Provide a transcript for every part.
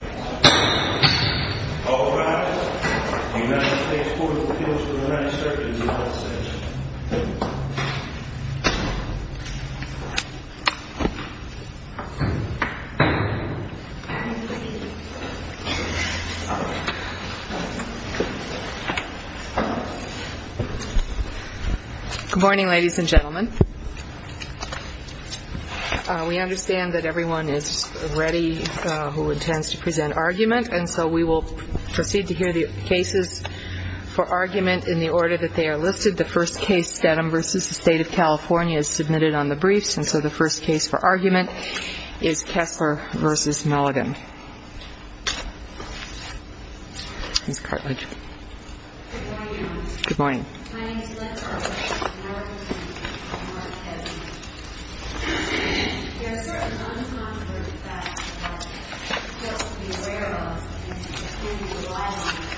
Good morning, ladies and gentlemen. We understand that everyone is ready who intends to present argument, and so we will proceed to hear the cases for argument in the order that they are listed. The first case, Steadham v. State of California, is submitted on the briefs, and so the first case for argument is Kessler v. Meligan. Ms. Cartlidge. Good morning, Your Honor. Good morning. My name is Glenn Cartlidge, and I will present the case for Mark Kessler. There are certain unconfirmed facts about Kessler that fail to be aware of, and to the extent that we rely on them,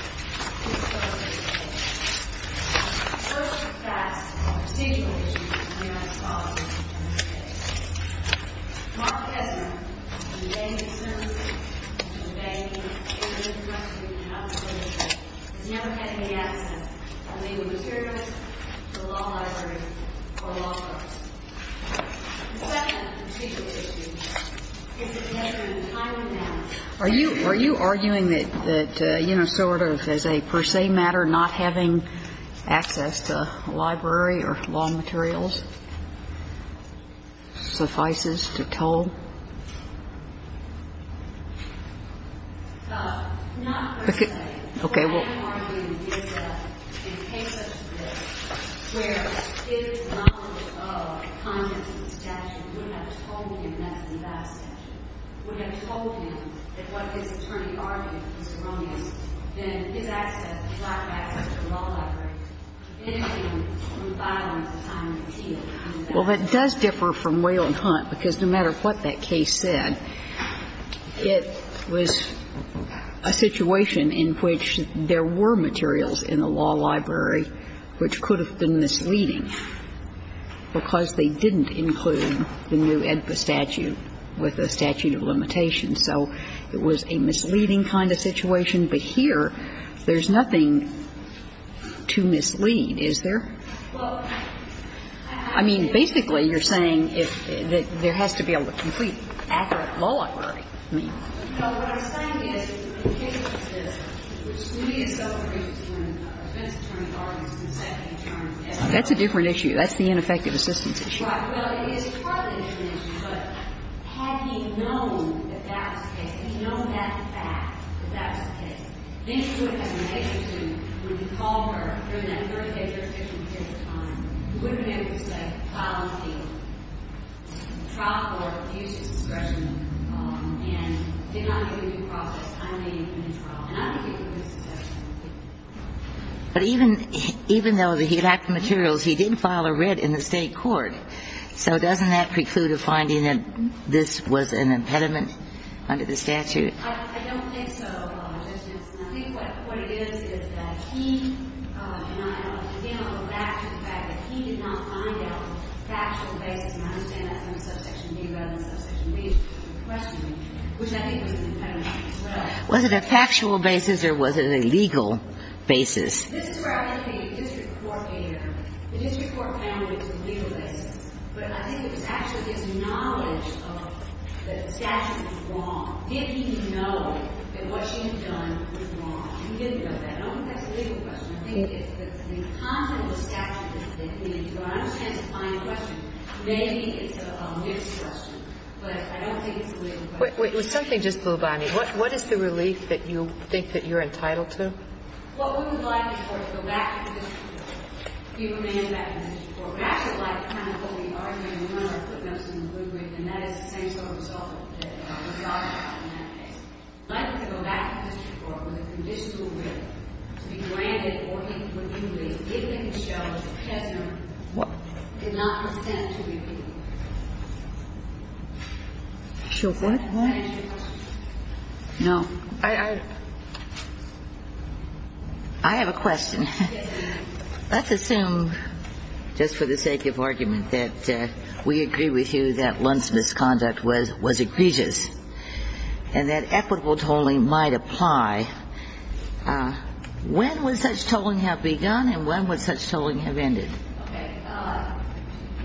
we will proceed with the case. The first facts are of particular interest to the United States. Mark Kessler, on the day of his service, on the day of his introduction to the House of Representatives, has never had any access to legal materials, to a law library, or law courts. The second particular issue is that Kessler, in a timely manner. Are you arguing that, you know, sort of as a per se matter, not having access to a library or law materials suffices to toll? Well, it does differ from Whale and Hunt, because no matter what they say, they're arguing that there is no access to a law library or a law court. They're arguing that there is no access to a library or a law court. I'm not arguing that there is no access to a library or a law court, because no matter what that case said, it was a situation in which there were materials in a law library which could have been misleading because they didn't include the new AEDPA statute with a statute of limitations. So it was a misleading kind of situation, but here there's nothing to mislead, is there? I mean, basically you're saying that there has to be a complete, accurate law library. That's a different issue. That's the ineffective assistance issue. Right, well, it is partly an issue, but had he known that that was the case, had he known that fact that that was the case, then he would have been able to, when he called her during that Thursday jurisdiction period of time, he would have been able to say, file on the field. The trial court refused his discretion and did not give him due process. I made him a new trial. And I'm going to give you a good suggestion. But even though he lacked the materials, he did file a writ in the State court. So doesn't that preclude a finding that this was an impediment under the statute? I don't think so, Justice Ginsburg. I think what it is, is that he and I, again, I'll go back to the fact that he did not find out a factual basis, and I understand that from Subsection B rather than Subsection B's question, which I think was an impediment as well. Was it a factual basis or was it a legal basis? This is where I think the district court came in early. The district court found it was a legal basis. But I think it was actually his knowledge of that the statute was wrong. Did he know that what she had done was wrong? He didn't know that. I don't think that's a legal question. I think it's the content of the statute that we need to understand to find a question. Maybe it's a mixed question, but I don't think it's a legal question. What is the relief that you think that you're entitled to? What we would like is for it to go back to the district court. We would like it to go back to the district court. After the fact, what we are doing, we want to put him some good weight and that is the same sort of result that the judge had in that case. Likely to go back to the district court was a conditional right to be granted or even when he was released, given that he showed that the prisoner did not consent to be released. I have a question. Let's assume, just for the sake of argument, that we agree with you that Lund's misconduct was egregious and that equitable tolling might apply. When would such tolling have begun and when would such tolling have ended? Okay.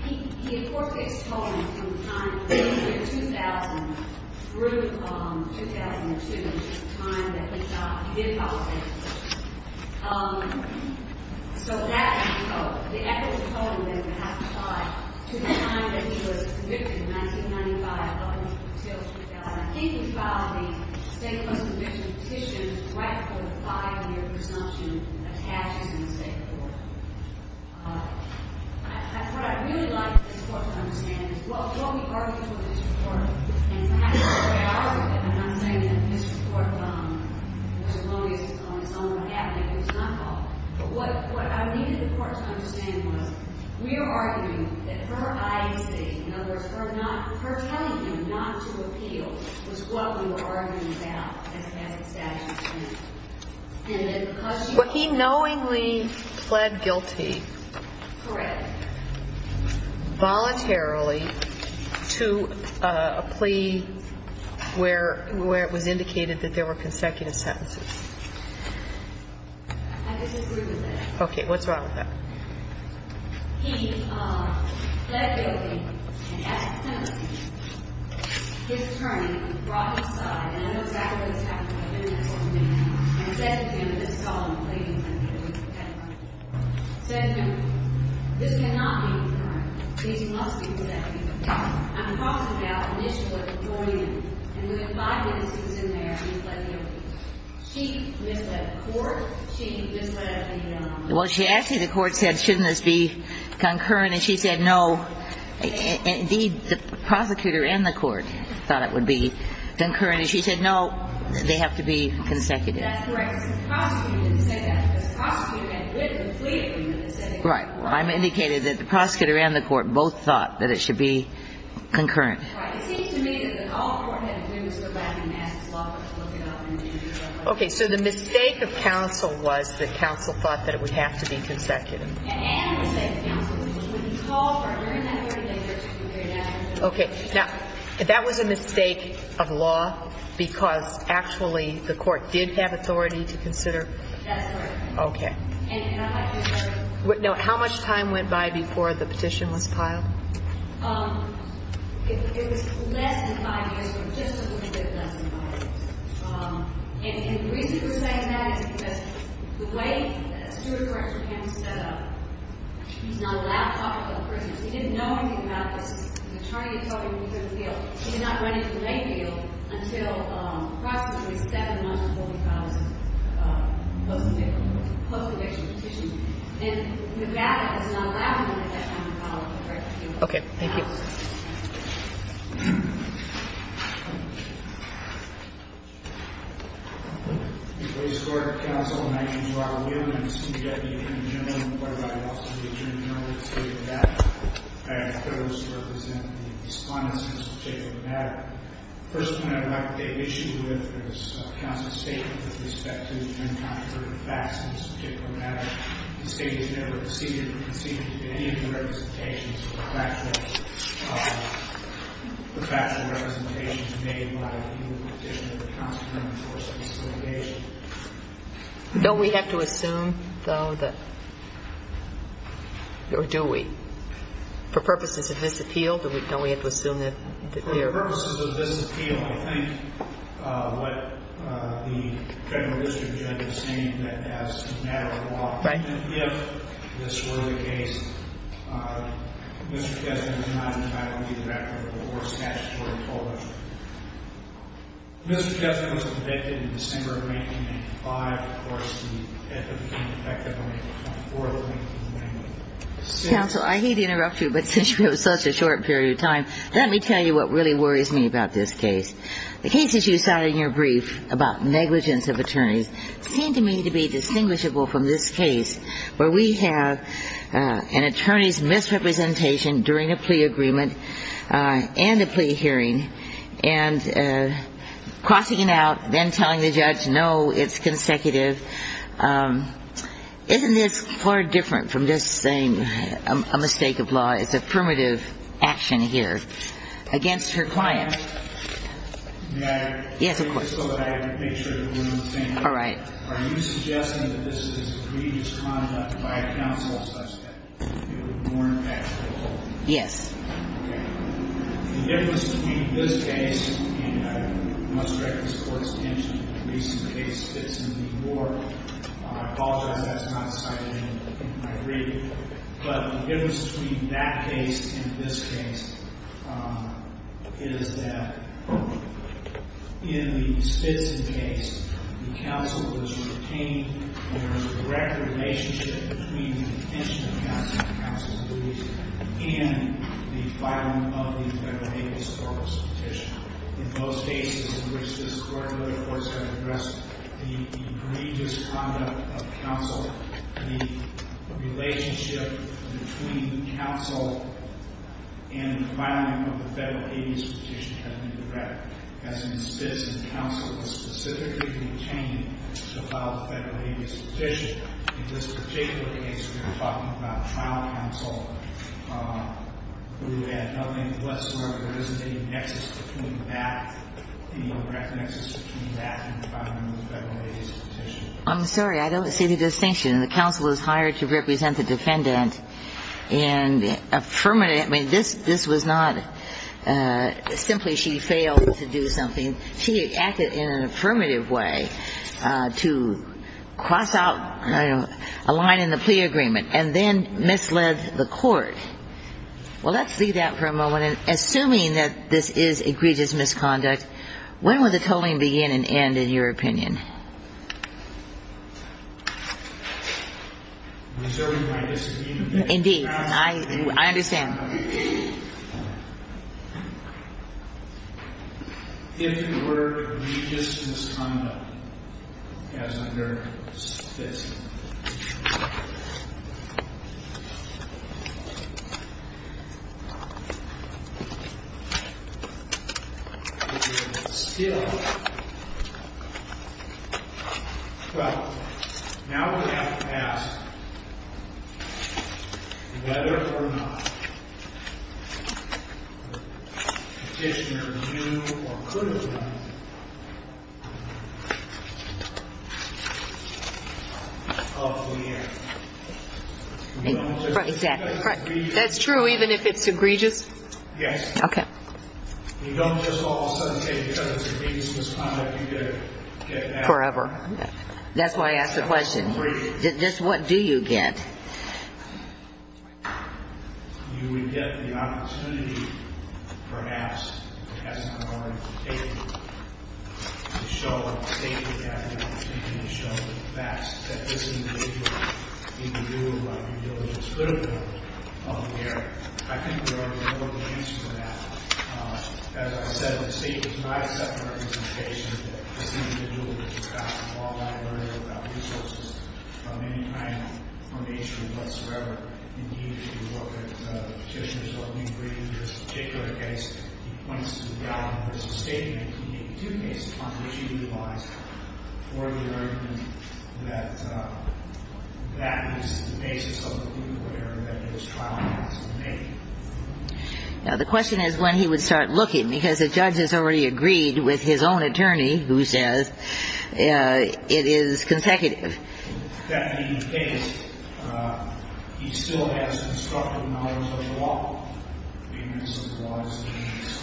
He, of course, gets tolling from the time in the year 2000 through 2002, which is the time that he got, he did file a statement. So that, the equitable tolling then would have to apply to the time that he was convicted in 1995 up until 2000. I think he filed the state post-conviction petition right before the five-year presumption attaches in the State of Florida. What I'd really like the court to understand is what we argued with the district court and perhaps the way I argue it, and I'm saying that the district court, as long as it's on its own regabinate, it's not called. But what I needed the court to understand was we are arguing that her IAC, in other words, her telling him not to appeal, was what we were arguing about as a statute of He knowingly pled guilty. Correct. Voluntarily to a plea where it was indicated that there were consecutive sentences. I disagree with that. Okay. What's wrong with that? He pled guilty and as a penalty, his attorney brought his side, and I know exactly what he did. He said to him, this cannot be concurrent. These must be consecutive. I'm talking about an issue at the Jordanian, and we had five witnesses in there, and he pled guilty. She misled the court. She misled him. Well, actually, the court said, shouldn't this be concurrent? And she said, no. Indeed, the prosecutor and the court thought it would be concurrent. And she said, no, they have to be consecutive. That's correct. The prosecutor didn't say that. The prosecutor had written a plea. Right. Well, I'm indicating that the prosecutor and the court both thought that it should be concurrent. Right. It seems to me that all the court had to do was go back and ask the law court to look it up. Okay. So the mistake of counsel was that counsel thought that it would have to be consecutive. Yeah, and the mistake of counsel was when he called her during that hearing, they took it very naturally. Okay. Now, that was a mistake of law because, actually, the court did have authority to consider That's correct. Okay. And how much time went by before the petition was filed? It was less than five years from just when the petition was filed. And the reason we're saying that is because the way that the steward court in Japan is set up, he's not allowed to talk about prisoners. He didn't know anything about this. The attorney had told him he could appeal. He did not run into the main field until approximately seven months before we filed the post-conviction petition. And McGrath has not allowed him to make that kind of comment. Okay. Thank you. Mr. Gordon, counsel, I'm Michael Gordon. I'm the city deputy attorney general in the court of law. I'm also the attorney general of the state of Nevada. I have a proposed to represent the respondents in this particular matter. The first point I'd like to make issue with is counsel's statement with respect to the unconcerned facts in this particular matter. The state has never conceded in any of the representations with respect to this particular matter. The factual representation is made by the petitioner, the counselor, and the force of disobligation. Don't we have to assume, though, that, or do we? For purposes of this appeal, don't we have to assume that they are? For purposes of this appeal, I think what the federal district judge is saying that as a matter of law, we can't give this word against. Mr. Gessner was not entitled to give that word, or statutorily told us. Mr. Gessner was convicted in December of 1985. Of course, it became effective on April 24th. Counsel, I hate to interrupt you, but since you have such a short period of time, let me tell you what really worries me about this case. The cases you cited in your brief about negligence of attorneys seem to me to be distinguishable from this case, where we have an attorney's misrepresentation during a plea agreement and a plea hearing, and crossing it out, then telling the judge, no, it's consecutive. Isn't this far different from just saying a mistake of law? It's affirmative action here against her client. May I? Yes, of course. Just so that I can make sure that we're on the same page. All right. Are you suggesting that this is egregious conduct by a counsel such that it would more impact the whole thing? Yes. Okay. The difference between this case, and I must direct this Court's attention to the recent case that's in the court. I apologize that's not cited in my brief, but the difference between that case and this case is that in the Spitzley case, the counsel was retained, and there was a direct relationship between the detention of counsel, the counsel's deletion, and the filing of the federally disclosed petition. In both cases in which this Court and other courts have addressed the egregious conduct of counsel, the relationship between the counsel and the filing of the federal habeas petition has been direct. As in Spitzley, the counsel was specifically retained to file the federal habeas petition. In this particular case, we're talking about trial counsel who had no name whatsoever. There isn't any nexus between that, any direct nexus between that and the filing of the federal habeas petition. I'm sorry. I don't see the distinction. The counsel was hired to represent the defendant, and affirmative. I mean, this was not simply she failed to do something. She acted in an affirmative way to cross out a line in the plea agreement, and then misled the court. Well, let's leave that for a moment. Assuming that this is egregious misconduct, when will the tolling begin and end, in your opinion? Reserving my disobedience. Indeed. I understand. If the word egregious misconduct, as under Spitzley. Well, now we have to ask, whether or not the petitioner knew or could have known. That's true, even if it's egregious? Yes. Okay. You don't just all of a sudden say, because it's egregious misconduct, you get an F. Forever. That's why I asked the question. Just what do you get? You would get the opportunity, perhaps, if it hasn't already been taken, to show the state that you have the opportunity to show the facts that this individual need to do while you're doing this critical work on the area. I think we already know the answer to that. As I said, the state does not accept the recommendation that this individual should Now, the question is when he would start looking, because the judge has already agreed with his own attorney, who says, you know, this is not the case. It is consecutive.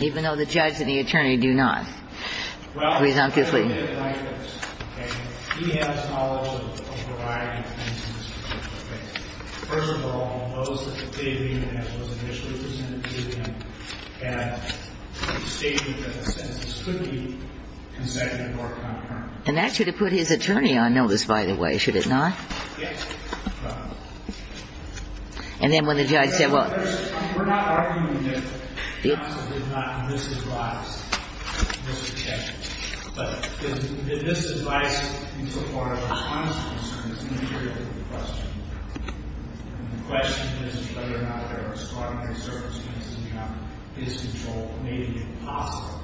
Even though the judge and the attorney do not, presumptively. And that should have put his attorney on notice, by the way, should it not? And then when the judge said, well. We're not arguing that counsel did not misadvise, Mr. Chairman. But did this advice become part of his honest concern? It's an interior to the question. And the question is whether or not there are extraordinary circumstances in which his control may be impossible.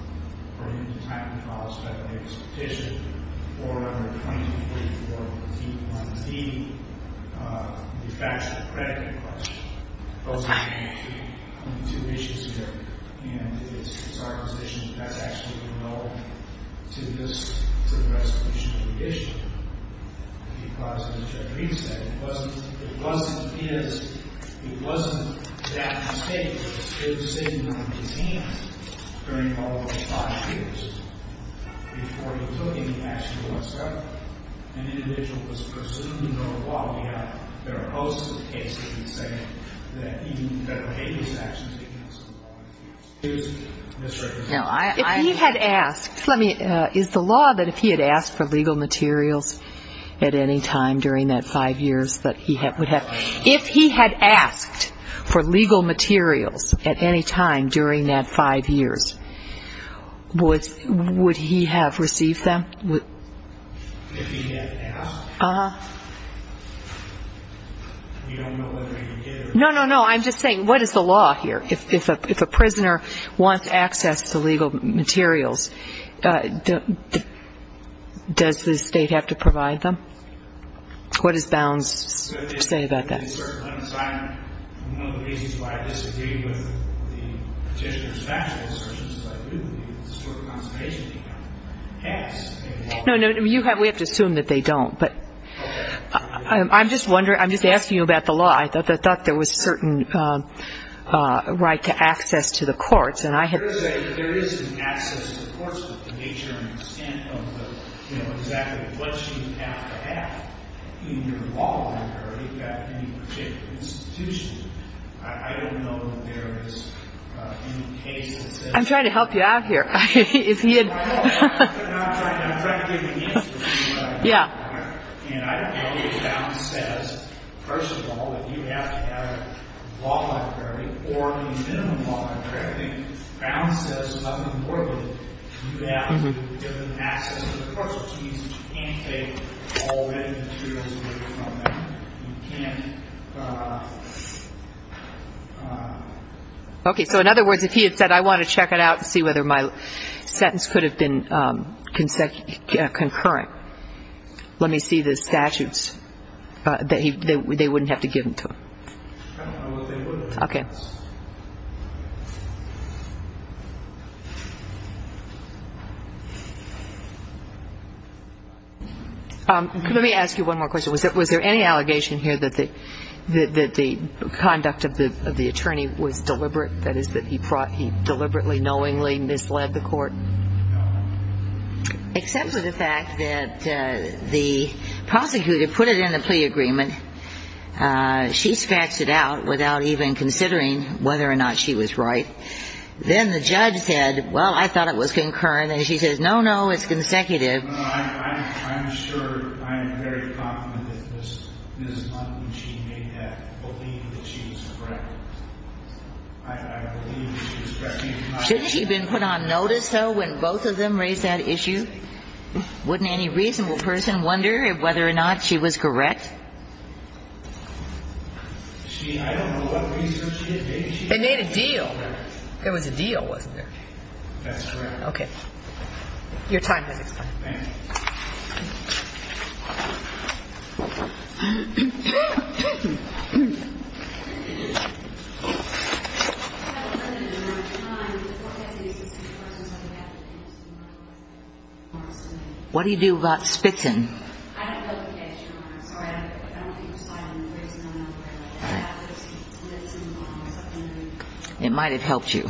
Or in the time that follows by the latest petition. Or under 2044 of the T1D, the facts of the credit request. Those are the only two issues here. And it's our position that that's actually relevant to this resolution of the issue. Because as Judge Reed said, it wasn't his, it wasn't that mistake. It was a decision that was in his hands during all of those five years. Before he took any action whatsoever, an individual was presumed, and there are a host of cases that say that even federal habeas actions against the law. It was misrepresented. If he had asked, let me, is the law that if he had asked for legal materials at any time during that five years that he would have, if he had asked for legal materials at any time during that five years, would he have received them? If he had asked? Uh-huh. We don't know whether he would have. No, no, no. I'm just saying what is the law here? If a prisoner wants access to legal materials, does the state have to provide them? What does Bounds say about that? No, no, we have to assume that they don't. But I'm just wondering, I'm just asking you about the law. I thought there was a certain right to access to the courts. There is an access to the courts, but to the extent of the, you know, exactly what you have to have in your law library at any particular institution. I don't know if there is any case that says that. I'm trying to help you out here. If he had. I'm trying to give you an instance of what I'm talking about here. Yeah. And I don't know if Bounds says, first of all, that you have to have a law library or a minimum law library. I think Bounds says something more than that. You have to give them access to the courts. You can't take all the materials away from them. You can't. Okay. So in other words, if he had said, I want to check it out and see whether my sentence could have been concurrent. Let me see the statutes. They wouldn't have to give them to him. Okay. Let me ask you one more question. Was there any allegation here that the conduct of the attorney was deliberate? That is, that he deliberately, knowingly misled the court? Except for the fact that the prosecutor put it in the plea agreement. She scratched it out without even considering whether or not she was right. Then the judge said, well, I thought it was concurrent. And she says, no, no, it's consecutive. I'm sure I'm very confident that Ms. Munden, she made that believe that she was correct. I believe she was correct. Shouldn't she have been put on notice, though, when both of them raised that issue? Wouldn't any reasonable person wonder whether or not she was correct? They made a deal. There was a deal, wasn't there? That's correct. Okay. Your time has expired. What do you do about spitting? I don't know the case, Your Honor. I'm sorry. I don't think it was filed. I don't know the reason. I don't know where it was filed. It might have helped you.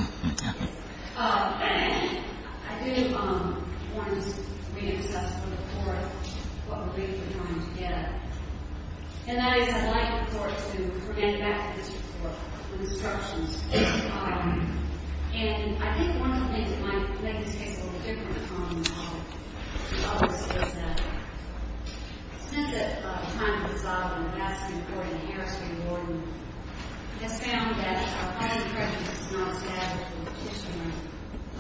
I do want to read access to the court what relief we're trying to get. And that is, I'd like the court to bring it back to this report with instructions. And I think one of the things that might make this case a little different from others is that, since the time that it was filed in the Gadsden court and the Harris v. Gordon, it's found that a high-ranking president is not a staffer or a petitioner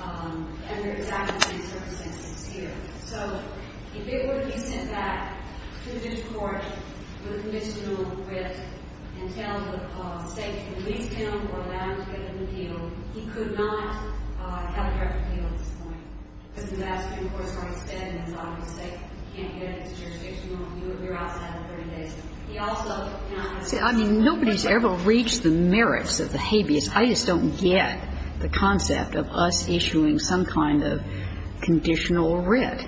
under exactly the same circumstances here. So if it were to be sent back to this court with a conditional writ and tell the State to release him or allow him to get an appeal, he could not have a correct appeal at this point, because the Gadsden court started spitting, and it's obvious the State can't get it. It's jurisdictional. We're outside of the 30 days. He also, you know, I'm going to say, I mean, nobody's ever reached the merits of the habeas. I just don't get the concept of us issuing some kind of conditional writ.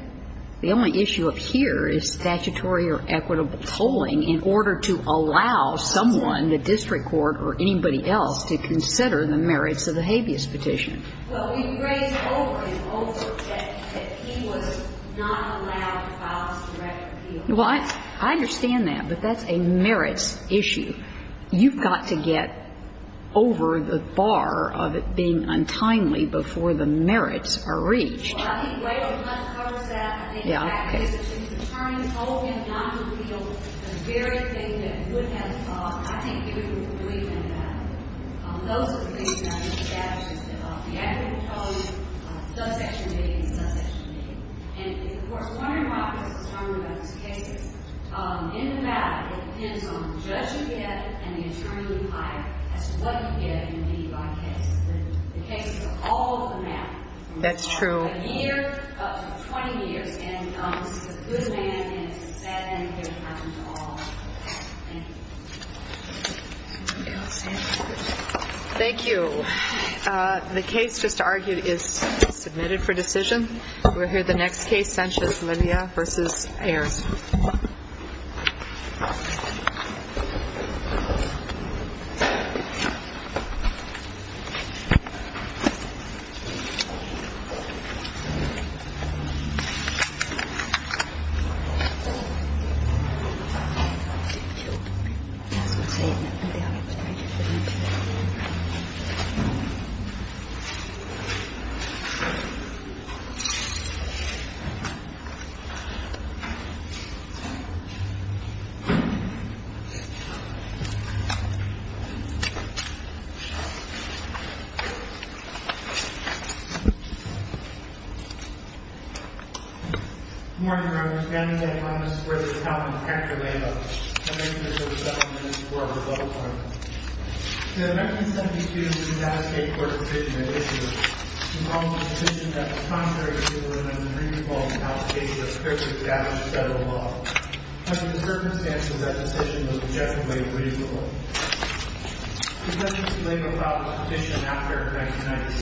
The only issue up here is statutory or equitable tolling in order to allow someone, the district court or anybody else, to consider the merits of the habeas petition. Well, we've raised over and over that he was not allowed to file his direct appeal. Well, I understand that, but that's a merits issue. You've got to get over the bar of it being untimely before the merits are reached. Well, I think way over the line it covers that. I think the fact is that if the attorney told him not to appeal, the very thing that he would have to file, I think he would have to believe in the matter. Those are the things that I think the statute is about. The equitable tolling, subsection A and subsection B. And, of course, I'm wondering why I was concerned about this case. In the matter, it depends on the judge you get and the attorney you hire as to what you get and what you get by case. The case is all of the matter. That's true. A year, up to 20 years, and it's a good man and it's a bad man if it happens to all. Thank you. Thank you. The case just argued is submitted for decision. We'll hear the next case, Sanchez-Media v. Ayers. Good morning, Your Honors. Danny Sanchez-Media, this is the Court of Appeal. I'm here to serve seven minutes before rebuttal time. The 1972 Utah State Court of Decision and Issues involved a decision that was contrary to the limits of the three defaults in all states that strictly establish federal law. Under the circumstances, that decision was objectively agreeable. The judge was delayed without a petition after 1996.